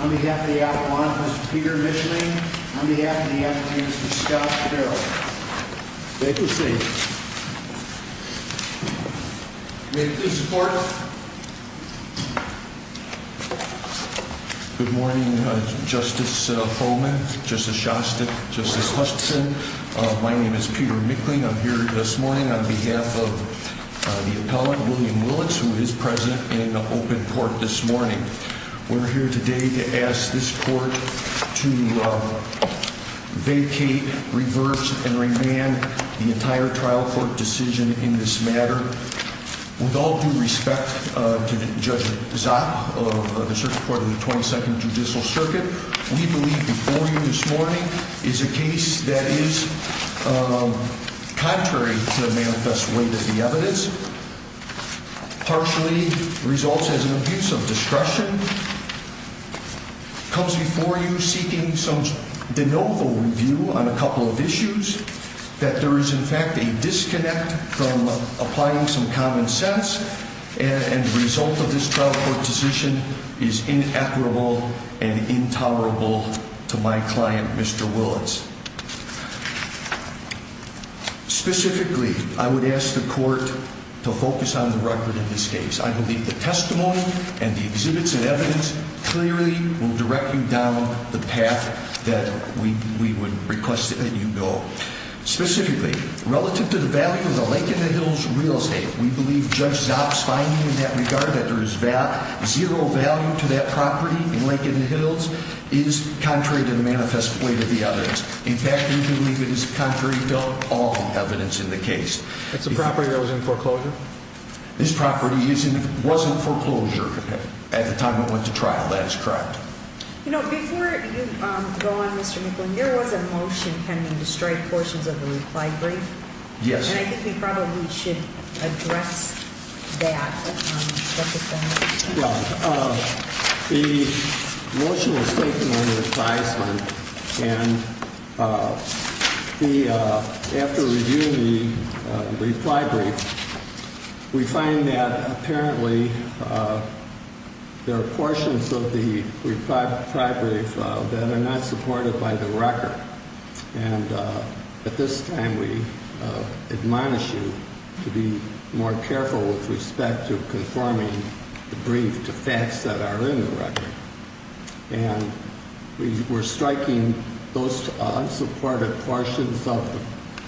on behalf of the Atlanta, Mr. Peter Micheling, on behalf of the African-Americans, Mr. Scott Carroll. May it please the Court. Good morning, Justice Homan, Justice Shostak, Justice Huston. My name is Peter Micheling. I'm here this morning on behalf of the appellant, William Willetts, who is present in an open court this morning. We're here today to ask this Court to vacate, reverse, and revamp the entire trial court decision in this matter. With all due respect to Judge Zopp of the Circuit Court of the 22nd Judicial Circuit, we believe before you this morning is a case that is contrary to the manifest weight of the evidence. Partially results as an abuse of discretion. Comes before you seeking some de novo review on a couple of issues that there is, in fact, a disconnect from applying some common sense. And the result of this trial court decision is inequitable and intolerable to my client, Mr. Willetts. Specifically, I would ask the Court to focus on the record in this case. I believe the testimony and the exhibits and evidence clearly will direct you down the path that we would request that you go. Specifically, relative to the value of the Lake in the Hills real estate, we believe Judge Zopp's finding in that regard that there is zero value to that property in Lake in the Hills is contrary to the manifest weight of the evidence. In fact, we believe it is contrary to all the evidence in the case. That's a property that was in foreclosure? This property was in foreclosure at the time it went to trial. That is correct. You know, before you go on, Mr. Nicholson, there was a motion pending to strike portions of the reply brief. Yes. And I think we probably should address that. The motion was taken under advisement, and after reviewing the reply brief, we find that apparently there are portions of the reply brief that are not supported by the record. And at this time, we admonish you to be more careful with respect to conforming the brief to facts that are in the record. And we're striking those unsupported portions of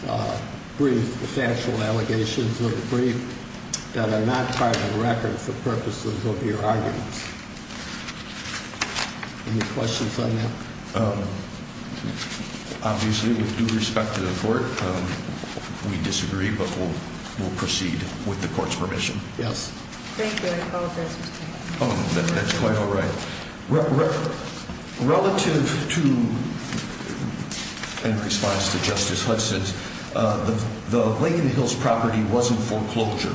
the brief, the factual allegations of the brief, that are not part of the record for purposes of your arguments. Any questions on that? Obviously, with due respect to the court, we disagree, but we'll proceed with the court's permission. Yes. Thank you. I apologize, Mr. Nicholson. That's quite all right. Relative to, in response to Justice Hudson's, the Lake in the Hills property wasn't foreclosure.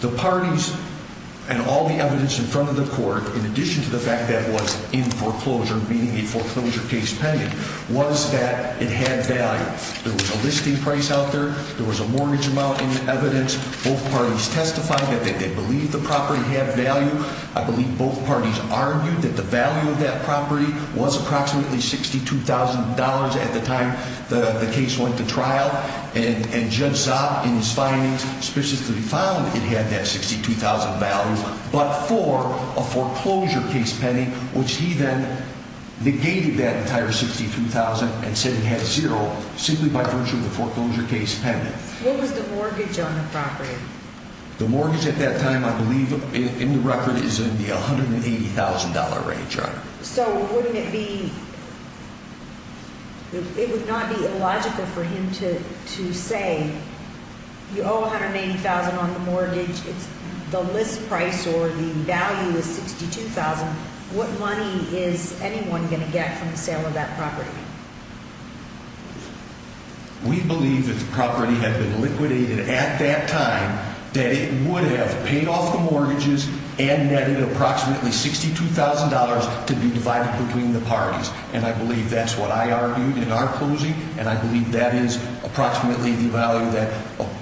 The parties and all the evidence in front of the court, in addition to the fact that it was in foreclosure, meaning a foreclosure case pending, was that it had value. There was a listing price out there. There was a mortgage amount in the evidence. Both parties testified that they believed the property had value. I believe both parties argued that the value of that property was approximately $62,000 at the time the case went to trial. And Judge Zopp, in his findings, specifically found it had that $62,000 value, but for a foreclosure case pending, which he then negated that entire $62,000 and said he had zero, simply by virtue of the foreclosure case pending. What was the mortgage on the property? The mortgage at that time, I believe in the record, is in the $180,000 range, Your Honor. So wouldn't it be – it would not be illogical for him to say, you owe $180,000 on the mortgage, the list price or the value is $62,000. What money is anyone going to get from the sale of that property? We believe that the property had been liquidated at that time, that it would have paid off the mortgages and netted approximately $62,000 to be divided between the parties. And I believe that's what I argued in our closing, and I believe that is approximately the value that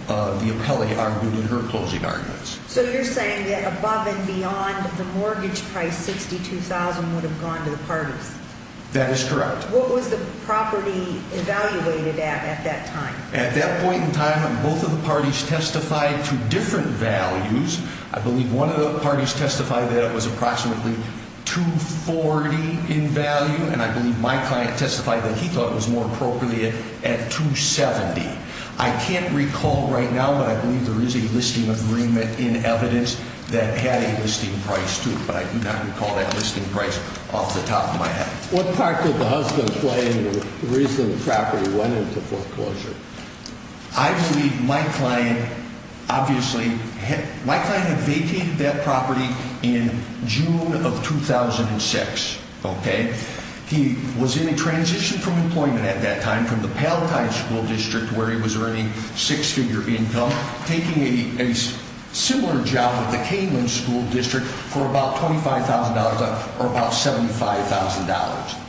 the appellee argued in her closing arguments. So you're saying that above and beyond the mortgage price, $62,000 would have gone to the parties? That is correct. What was the property evaluated at at that time? At that point in time, both of the parties testified to different values. I believe one of the parties testified that it was approximately $240,000 in value, and I believe my client testified that he thought it was more appropriate at $270,000. I can't recall right now, but I believe there is a listing agreement in evidence that had a listing price, too, but I do not recall that listing price off the top of my head. What part did the husband play in the reason the property went into foreclosure? I believe my client obviously had vacated that property in June of 2006. He was in a transition from employment at that time from the Paltine School District, where he was earning six-figure income, taking a similar job at the Canelan School District for about $25,000 or about $75,000.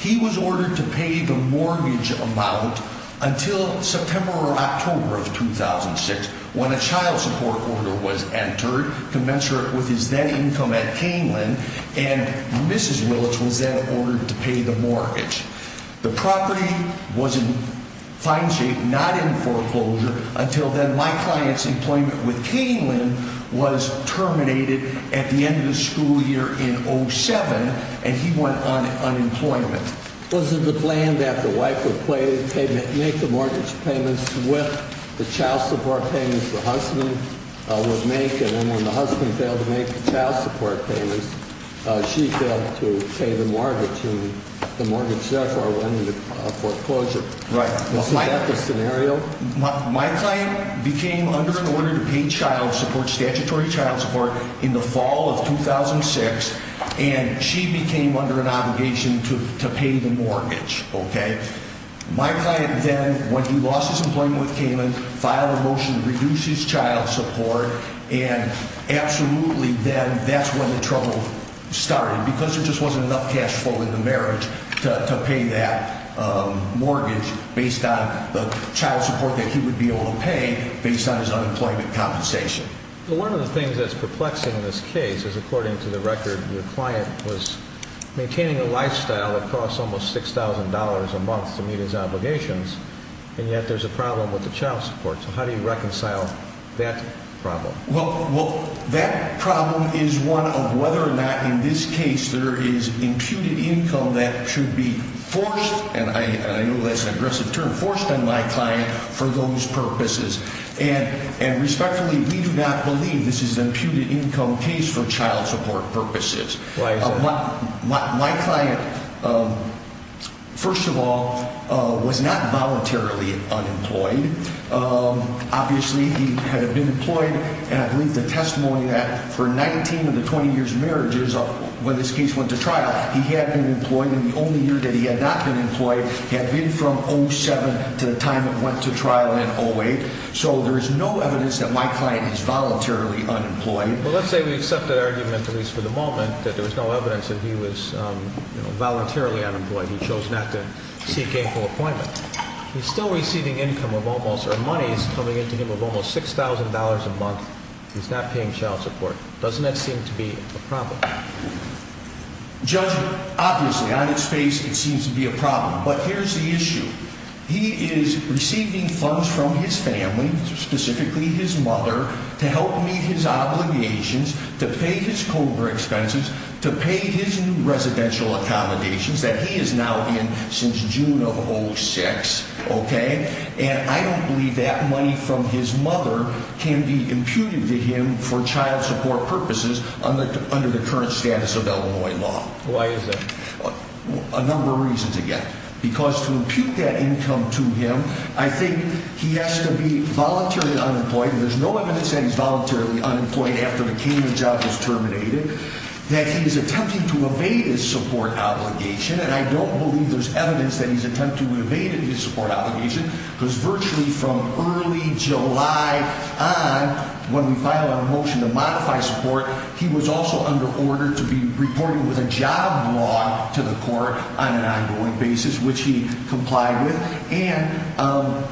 He was ordered to pay the mortgage amount until September or October of 2006, when a child support order was entered, commensurate with his then income at Canelan, and Mrs. Willits was then ordered to pay the mortgage. The property was in fine shape, not in foreclosure, until then my client's employment with Canelan was terminated at the end of the school year in 2007, and he went on unemployment. Was it the plan that the wife would make the mortgage payments with the child support payments the husband would make, and then when the husband failed to make the child support payments, she failed to pay the mortgage, and the mortgage therefore went into foreclosure? Right. Was that the scenario? My client became under an order to pay child support, statutory child support, in the fall of 2006, and she became under an obligation to pay the mortgage, okay? My client then, when he lost his employment with Canelan, filed a motion to reduce his child support, and absolutely then that's when the trouble started, because there just wasn't enough cash flow in the marriage to pay that mortgage based on the child support that he would be able to pay based on his unemployment compensation. One of the things that's perplexing in this case is, according to the record, your client was maintaining a lifestyle that cost almost $6,000 a month to meet his obligations, and yet there's a problem with the child support. So how do you reconcile that problem? Well, that problem is one of whether or not in this case there is imputed income that should be forced, and I know that's an aggressive term, forced on my client for those purposes. And respectfully, we do not believe this is an imputed income case for child support purposes. My client, first of all, was not voluntarily unemployed. Obviously, he had been employed, and I believe the testimony that for 19 of the 20 years of marriages when this case went to trial, he had been employed, and the only year that he had not been employed had been from 07 to the time it went to trial in 08. So there is no evidence that my client is voluntarily unemployed. Well, let's say we accept that argument, at least for the moment, that there was no evidence that he was voluntarily unemployed. He chose not to seek a full appointment. He's still receiving income of almost, or monies coming into him of almost $6,000 a month. He's not paying child support. Doesn't that seem to be a problem? Judge, obviously, on its face, it seems to be a problem, but here's the issue. He is receiving funds from his family, specifically his mother, to help meet his obligations, to pay his COBRA expenses, to pay his new residential accommodations that he is now in since June of 06, okay? And I don't believe that money from his mother can be imputed to him for child support purposes under the current status of Illinois law. Why is that? A number of reasons, again. Because to impute that income to him, I think he has to be voluntarily unemployed, and there's no evidence that he's voluntarily unemployed after the Canaan job is terminated, that he is attempting to evade his support obligation, and I don't believe there's evidence that he's attempting to evade his support obligation, because virtually from early July on, when we filed our motion to modify support, he was also under order to be reported with a job block. To the court on an ongoing basis, which he complied with, and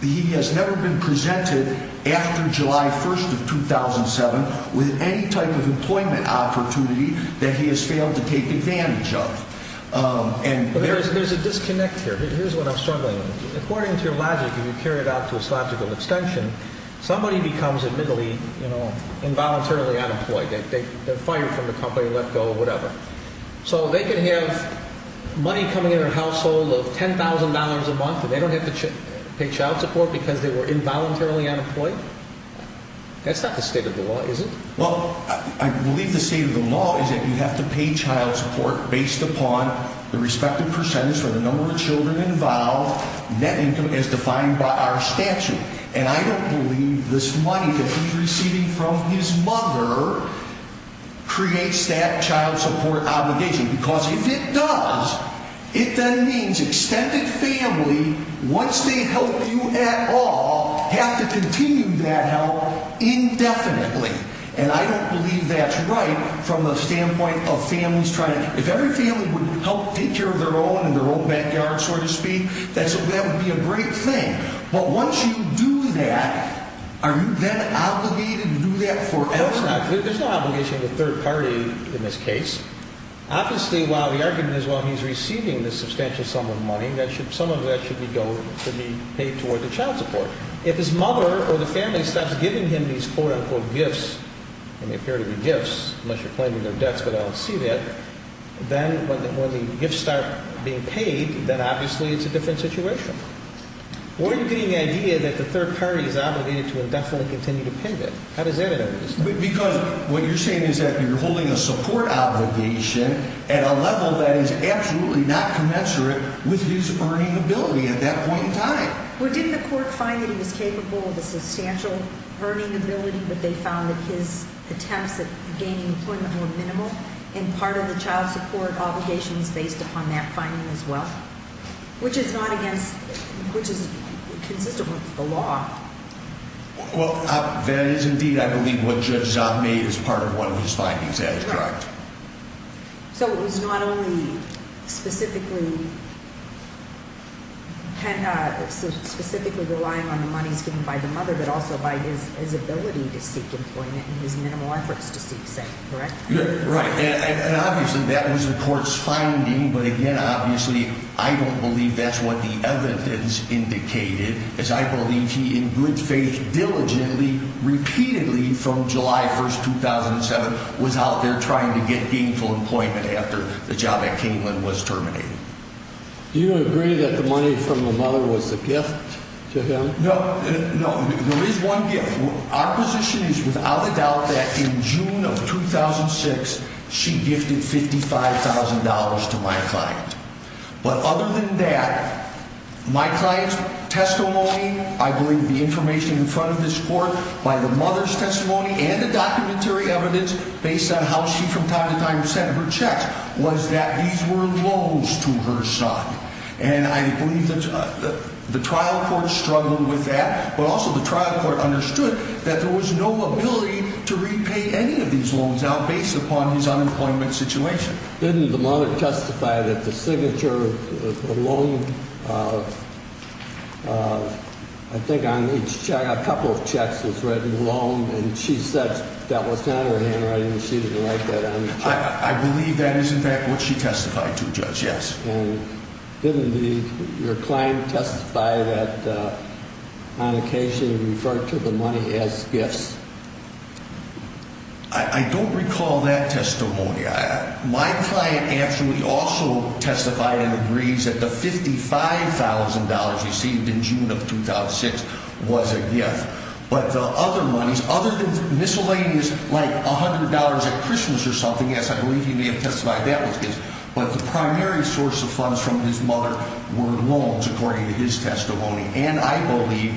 he has never been presented after July 1st of 2007 with any type of employment opportunity that he has failed to take advantage of. But there's a disconnect here. Here's what I'm struggling with. According to your logic, if you carry it out to its logical extension, somebody becomes, admittedly, involuntarily unemployed. They're fired from the company, let go, whatever. So they can have money coming in their household of $10,000 a month, and they don't have to pay child support because they were involuntarily unemployed? That's not the state of the law, is it? Well, I believe the state of the law is that you have to pay child support based upon the respective percentage for the number of children involved, net income as defined by our statute. And I don't believe this money that he's receiving from his mother creates that child support obligation, because if it does, it then means extended family, once they help you at all, have to continue that help indefinitely. And I don't believe that's right from the standpoint of families trying to – if every family would help take care of their own in their own backyard, so to speak, that would be a great thing. But once you do that, are you then obligated to do that forever? I hope not. There's no obligation to the third party in this case. Obviously, while the argument is, well, he's receiving this substantial sum of money, some of that should be paid toward the child support. If his mother or the family stops giving him these quote-unquote gifts – and they appear to be gifts, unless you're claiming they're debts, but I don't see that – then when the gifts start being paid, then obviously it's a different situation. Why are you getting the idea that the third party is obligated to indefinitely continue to pay them? How does that end up in this case? Because what you're saying is that you're holding a support obligation at a level that is absolutely not commensurate with his earning ability at that point in time. Well, didn't the court find that he was capable of a substantial earning ability, but they found that his attempts at gaining employment were minimal? And part of the child support obligation is based upon that finding as well? Which is not against – which is consistent with the law. Well, that is indeed, I believe, what Judge Zahn made as part of one of his findings. That is correct. So it was not only specifically relying on the monies given by the mother, but also by his ability to seek employment and his minimal efforts to seek safe, correct? Right. And obviously that was the court's finding, but again, obviously I don't believe that's what the evidence indicated, as I believe he, in good faith, diligently, repeatedly, from July 1st, 2007, was out there trying to get gainful employment after the job at Cainman was terminated. Do you agree that the money from the mother was a gift to him? No, no. There is one gift. Our position is without a doubt that in June of 2006, she gifted $55,000 to my client. But other than that, my client's testimony, I believe the information in front of this court, by the mother's testimony and the documentary evidence based on how she from time to time sent her checks, was that these were loans to her son. And I believe that the trial court struggled with that, but also the trial court understood that there was no ability to repay any of these loans out based upon his unemployment situation. Didn't the mother testify that the signature of the loan, I think on each check, a couple of checks was written along and she said that was not her handwriting and she didn't write that on the check? I believe that is in fact what she testified to, Judge, yes. And didn't your client testify that on occasion referred to the money as gifts? I don't recall that testimony. My client actually also testified and agrees that the $55,000 received in June of 2006 was a gift. But the other monies, other than miscellaneous, like $100 at Christmas or something, yes, I believe you may have testified that was gifts, but the primary source of funds from his mother were loans, according to his testimony. And I believe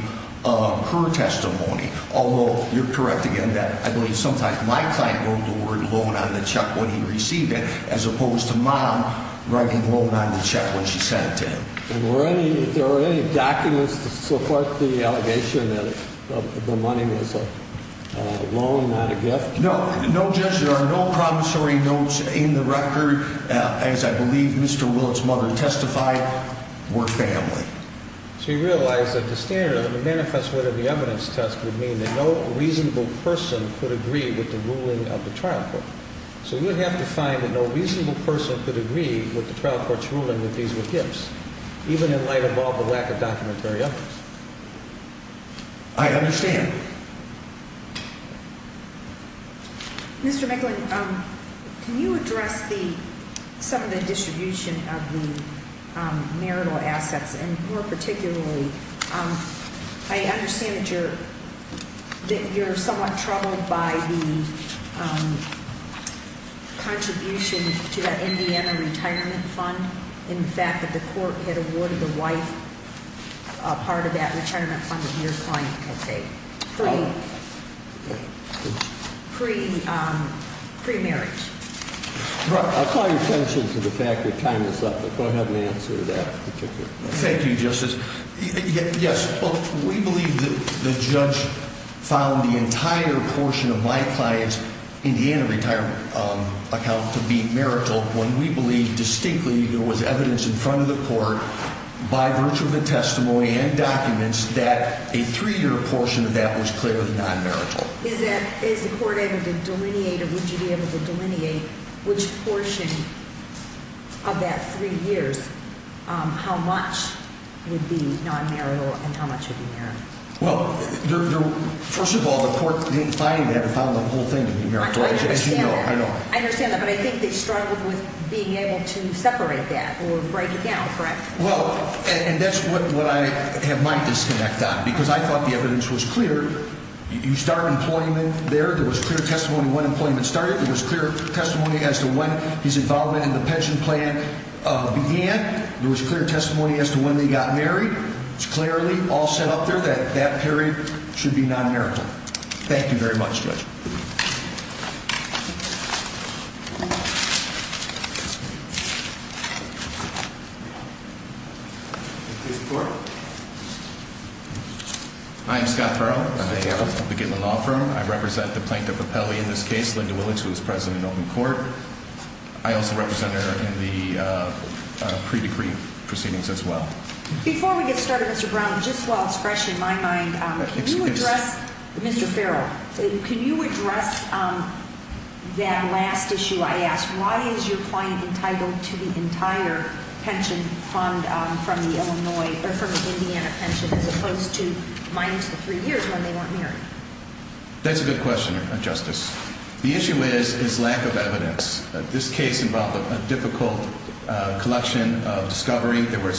her testimony, although you're correct again that I believe sometimes my client wrote the word loan on the check when he received it, as opposed to Mom writing loan on the check when she sent it to him. And were any, are there any documents to support the allegation that the money was a loan, not a gift? No. No, Judge, there are no promissory notes in the record. As I believe Mr. Willett's mother testified, were family. So you realize that the standard of the manifesto of the evidence test would mean that no reasonable person could agree with the ruling of the trial court. So you would have to find that no reasonable person could agree with the trial court's ruling that these were gifts, even in light of all the lack of documentary evidence. I understand. Mr. McGlynn, can you address some of the distribution of the marital assets, and more particularly, I understand that you're somewhat troubled by the contribution to that Indiana retirement fund, in fact, that the court had awarded the wife a part of that retirement fund that your client had paid. Pre-marriage. I'll call your attention to the fact that time is up, but go ahead and answer that particular question. Thank you, Justice. Yes, well, we believe that the judge found the entire portion of my client's Indiana retirement account to be marital, when we believe distinctly there was evidence in front of the court, by virtue of the testimony and documents, that a three-year portion of that was clearly non-marital. Is the court able to delineate, or would you be able to delineate, which portion of that three years, how much would be non-marital and how much would be marital? Well, first of all, the court didn't find it. They haven't found the whole thing to be marital. I understand that, but I think they struggled with being able to separate that or break it down, correct? Well, and that's what I have my disconnect on, because I thought the evidence was clear. You start employment there. There was clear testimony when employment started. There was clear testimony as to when his involvement in the pension plan began. There was clear testimony as to when they got married. It's clearly all set up there that that period should be non-marital. Thank you very much, Judge. Thank you. Hi, I'm Scott Farrell. I'm a beginner law firm. I represent the Plaintiff Appellee in this case, Linda Willits, who was present in open court. I also represent her in the pre-decree proceedings as well. Before we get started, Mr. Brown, just while it's fresh in my mind, can you address, Mr. Farrell, can you address that last issue I asked? Why is your client entitled to the entire pension fund from the Illinois, or from the Indiana pension, as opposed to minus the three years when they weren't married? That's a good question, Justice. The issue is his lack of evidence. This case involved a difficult collection of discovery. There were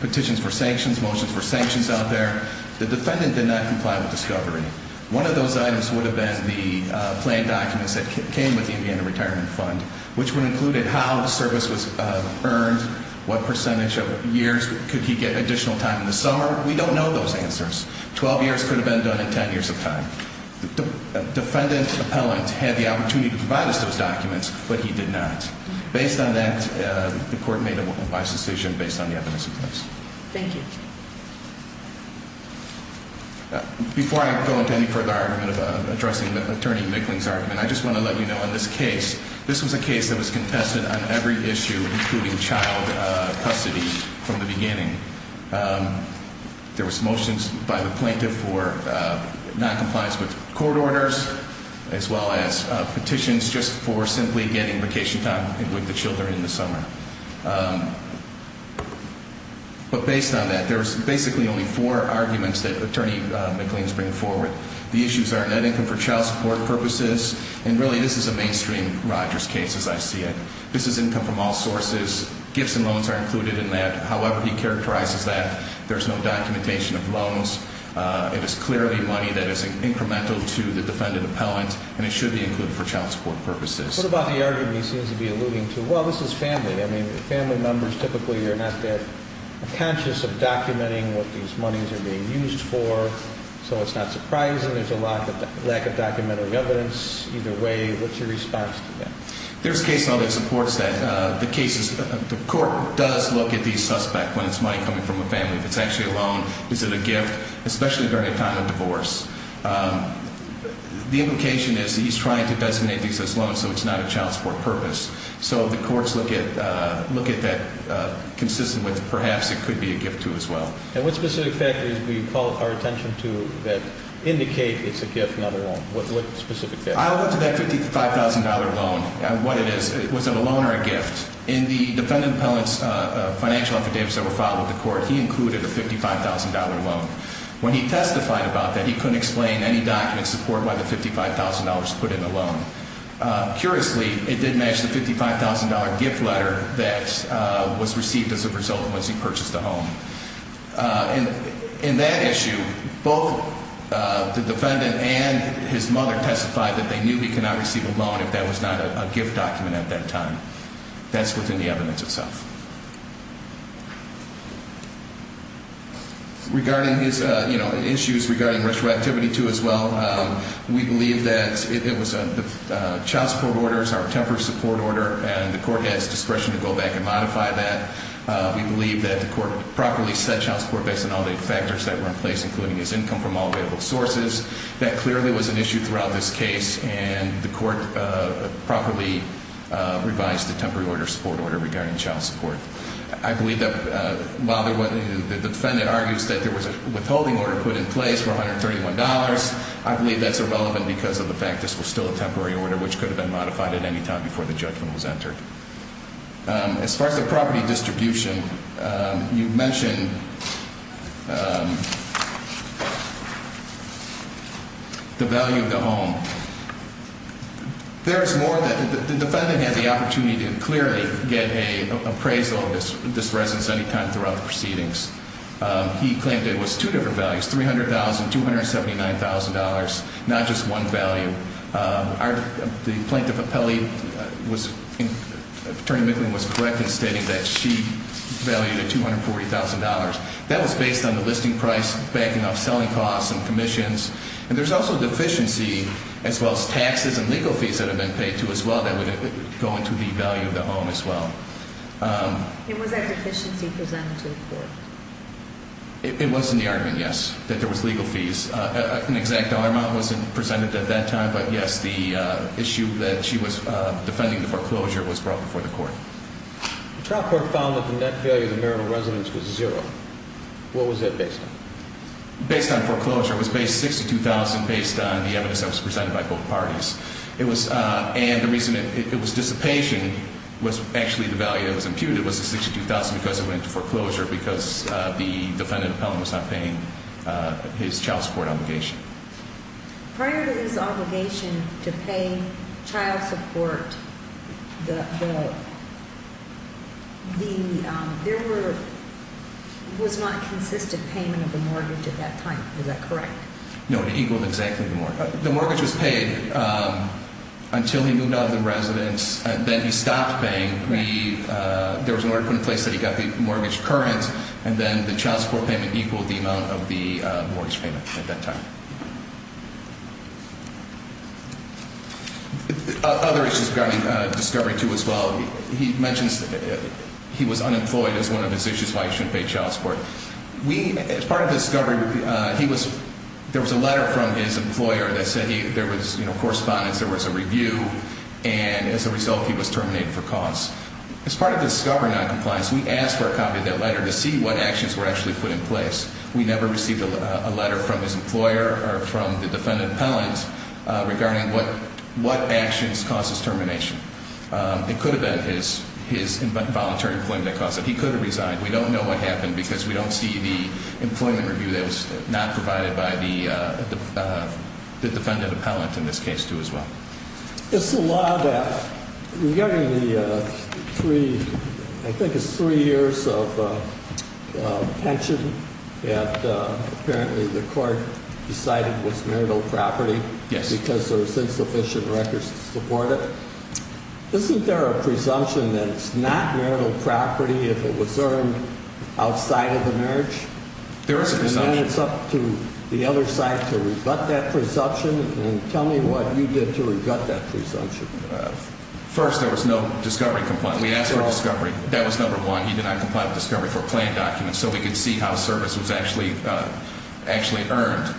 petitions for sanctions, motions for sanctions out there. The defendant did not comply with discovery. One of those items would have been the planned documents that came with the Indiana retirement fund, which would have included how the service was earned, what percentage of years could he get additional time in the summer. We don't know those answers. Twelve years could have been done in ten years of time. The defendant appellant had the opportunity to provide us those documents, but he did not. Based on that, the court made a wise decision based on the evidence in place. Thank you. Before I go into any further argument of addressing Attorney Mickling's argument, I just want to let you know in this case, this was a case that was contested on every issue, including child custody from the beginning. There was motions by the plaintiff for noncompliance with court orders, as well as petitions just for simply getting vacation time with the children in the summer. But based on that, there's basically only four arguments that Attorney Mickling's bringing forward. The issues are net income for child support purposes, and really this is a mainstream Rogers case as I see it. This is income from all sources. Gifts and loans are included in that. However he characterizes that, there's no documentation of loans. It is clearly money that is incremental to the defendant appellant, and it should be included for child support purposes. What about the argument he seems to be alluding to? Well, this is family. I mean, family members typically are not that conscious of documenting what these monies are being used for, so it's not surprising there's a lack of documentary evidence. Either way, what's your response to that? There's case law that supports that. The court does look at the suspect when it's money coming from a family. If it's actually a loan, is it a gift, especially during a time of divorce? The implication is he's trying to designate these as loans, so it's not a child support purpose. So the courts look at that consistent with perhaps it could be a gift, too, as well. And what specific factors do you call our attention to that indicate it's a gift, not a loan? What specific factors? I looked at that $55,000 loan and what it is. Was it a loan or a gift? In the defendant appellant's financial affidavits that were filed with the court, he included a $55,000 loan. When he testified about that, he couldn't explain any documents supporting why the $55,000 was put in the loan. Curiously, it did match the $55,000 gift letter that was received as a result of when he purchased the home. In that issue, both the defendant and his mother testified that they knew he could not receive a loan if that was not a gift document at that time. That's within the evidence itself. Regarding issues regarding retroactivity, too, as well, we believe that it was child support orders, our temporary support order, and the court has discretion to go back and modify that. We believe that the court properly set child support based on all the factors that were in place, including his income from all available sources. That clearly was an issue throughout this case, and the court properly revised the temporary order support order regarding child support. I believe that while the defendant argues that there was a withholding order put in place for $131, I believe that's irrelevant because of the fact that this was still a temporary order, which could have been modified at any time before the judgment was entered. As far as the property distribution, you mentioned the value of the home. There is more than that. The defendant had the opportunity to clearly get an appraisal of this residence any time throughout the proceedings. He claimed it was two different values, $300,000, $279,000, not just one value. The plaintiff appellee, Attorney Micklin, was correct in stating that she valued it $240,000. That was based on the listing price, backing off selling costs and commissions, and there's also deficiency as well as taxes and legal fees that have been paid to as well that would go into the value of the home as well. And was that deficiency presented to the court? It was in the argument, yes, that there was legal fees. An exact dollar amount wasn't presented at that time, but yes, the issue that she was defending the foreclosure was brought before the court. The trial court found that the net value of the marital residence was zero. What was that based on? Based on foreclosure, it was based $62,000 based on the evidence that was presented by both parties. And the reason it was dissipation was actually the value that was imputed was the $62,000 because it went to foreclosure because the defendant appellant was not paying his child support obligation. Prior to this obligation to pay child support, there was not consistent payment of the mortgage at that time. Is that correct? No, it equaled exactly the mortgage. The mortgage was paid until he moved out of the residence, and then he stopped paying. There was an order put in place that he got the mortgage current, and then the child support payment equaled the amount of the mortgage payment at that time. Other issues regarding Discovery II as well. He mentions he was unemployed as one of his issues why he shouldn't pay child support. As part of Discovery, there was a letter from his employer that said there was correspondence, there was a review, and as a result, he was terminated for cause. As part of the Discovery noncompliance, we asked for a copy of that letter to see what actions were actually put in place. We never received a letter from his employer or from the defendant appellant regarding what actions caused his termination. It could have been his involuntary employment that caused it. He could have resigned. We don't know what happened because we don't see the employment review that was not provided by the defendant appellant in this case too as well. It's the law that regarding the three, I think it's three years of pension that apparently the court decided was marital property because there was insufficient records to support it. Isn't there a presumption that it's not marital property if it was earned outside of the marriage? There is a presumption. It's up to the other side to rebut that presumption, and tell me what you did to rebut that presumption. First, there was no Discovery complaint. We asked for Discovery. That was number one. He did not comply with Discovery for planned documents so we could see how service was actually earned.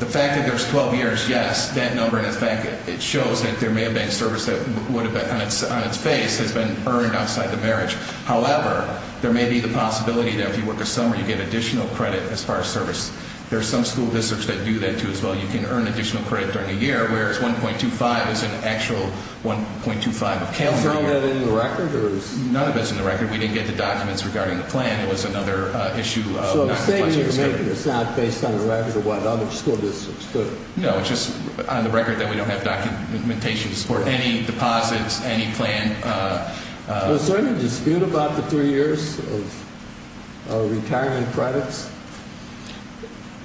The fact that there was 12 years, yes, that number in effect, it shows that there may have been service that would have been on its face has been earned outside the marriage. However, there may be the possibility that if you work a summer, you get additional credit as far as service. There are some school districts that do that too as well. You can earn additional credit during the year, whereas 1.25 is an actual 1.25 of calendar year. Is none of that in the record? None of it's in the record. We didn't get the documents regarding the plan. It was another issue of not complying with Discovery. So the statement you're making is not based on the records of what other school districts do? No, it's just on the record that we don't have documentation to support any deposits, any plan. Was there any dispute about the three years of retirement credits?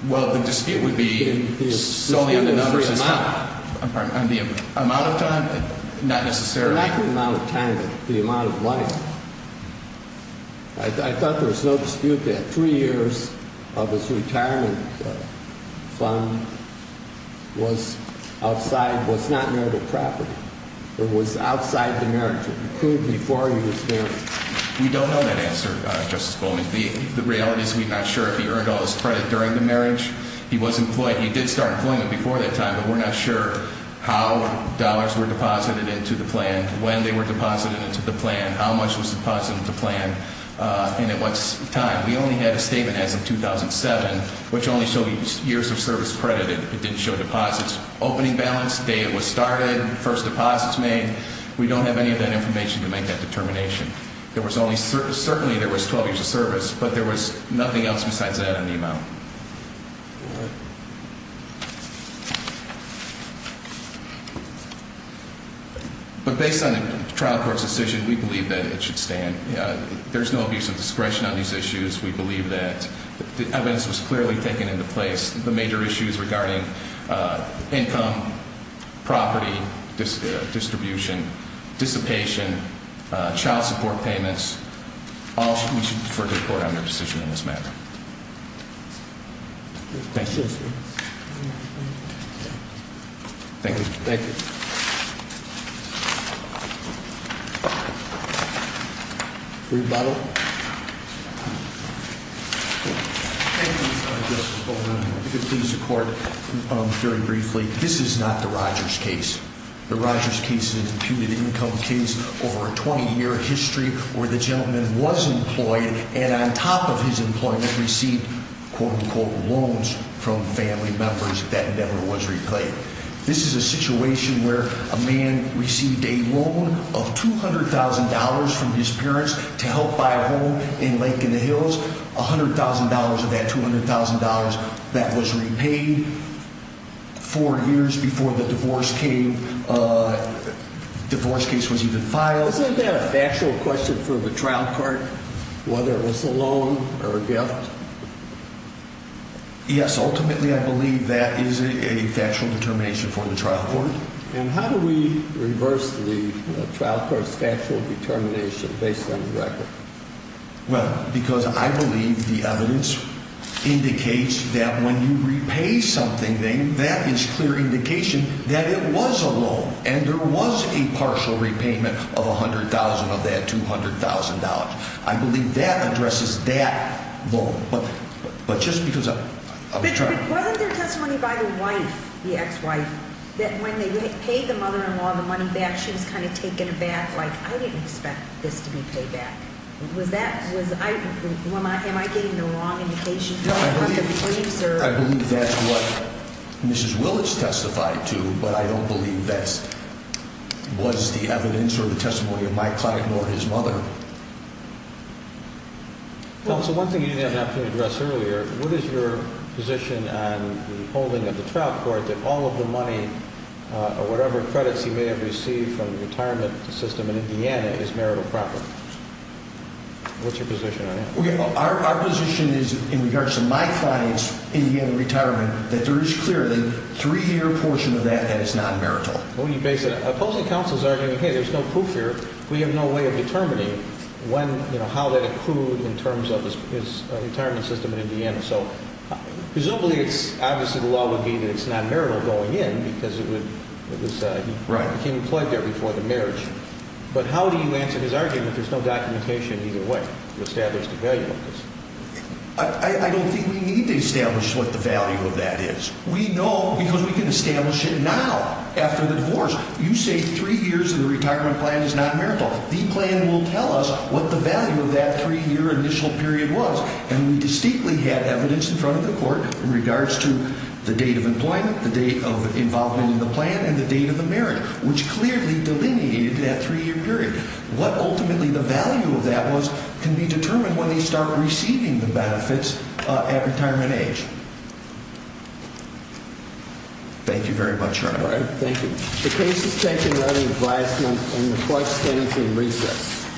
Well, the dispute would be solely on the number, I'm sorry, on the amount of time? Not necessarily? Not the amount of time, but the amount of money. I thought there was no dispute that three years of this retirement fund was outside, was not marital property. It was outside the marriage. It occurred before he was married. We don't know that answer, Justice Goldman. The reality is we're not sure if he earned all his credit during the marriage. He was employed. He did start employment before that time, but we're not sure how dollars were deposited into the plan, when they were deposited into the plan, how much was deposited into the plan, and at what time. We only had a statement as of 2007, which only showed years of service credited. It didn't show deposits. Opening balance, the day it was started, first deposits made. We don't have any of that information to make that determination. Certainly there was 12 years of service, but there was nothing else besides that on the amount. But based on the trial court's decision, we believe that it should stand. There's no abuse of discretion on these issues. We believe that the evidence was clearly taken into place. The major issues regarding income, property, distribution, dissipation, child support payments, we should defer to the court on their decision on this matter. Thank you. Thank you. Rebuttal. Thank you, Mr. Justice. If I could please the court very briefly. This is not the Rogers case. The Rogers case is an imputed income case over a 20-year history where the gentleman was employed and on top of his employment received, quote-unquote, loans from family members that never was repaid. This is a situation where a man received a loan of $200,000 from his parents to help buy a home in Lake in the Hills, $100,000 of that $200,000 that was repaid four years before the divorce case was even filed. Isn't that a factual question for the trial court, whether it was a loan or a gift? Yes, ultimately I believe that is a factual determination for the trial court. And how do we reverse the trial court's factual determination based on the record? Well, because I believe the evidence indicates that when you repay something, that is clear indication that it was a loan and there was a partial repayment of $100,000 of that $200,000. I believe that addresses that loan. But just because I'm trying to... When they paid the mother-in-law the money back, she was kind of taken aback, like, I didn't expect this to be paid back. Am I getting the wrong indication? I believe that's what Mrs. Willits testified to, but I don't believe that was the evidence or the testimony of my client or his mother. Counsel, one thing you didn't have an opportunity to address earlier. What is your position on the holding of the trial court that all of the money or whatever credits he may have received from the retirement system in Indiana is marital property? What's your position on that? Our position is, in regards to my client's Indiana retirement, that there is clearly a three-year portion of that that is not marital. Opposing counsel is arguing, hey, there's no proof here. We have no way of determining how that accrued in terms of his retirement system in Indiana. Presumably, obviously the law would be that it's not marital going in because he became employed there before the marriage. But how do you answer his argument that there's no documentation either way to establish the value of this? I don't think we need to establish what the value of that is. We know because we can establish it now after the divorce. You say three years in the retirement plan is not marital. The plan will tell us what the value of that three-year initial period was. And we distinctly had evidence in front of the court in regards to the date of employment, the date of involvement in the plan, and the date of the marriage, which clearly delineated that three-year period. What ultimately the value of that was can be determined when they start receiving the benefits at retirement age. Thank you very much, Your Honor. All right. Thank you. The case is taken under advisement and the court stands in recess.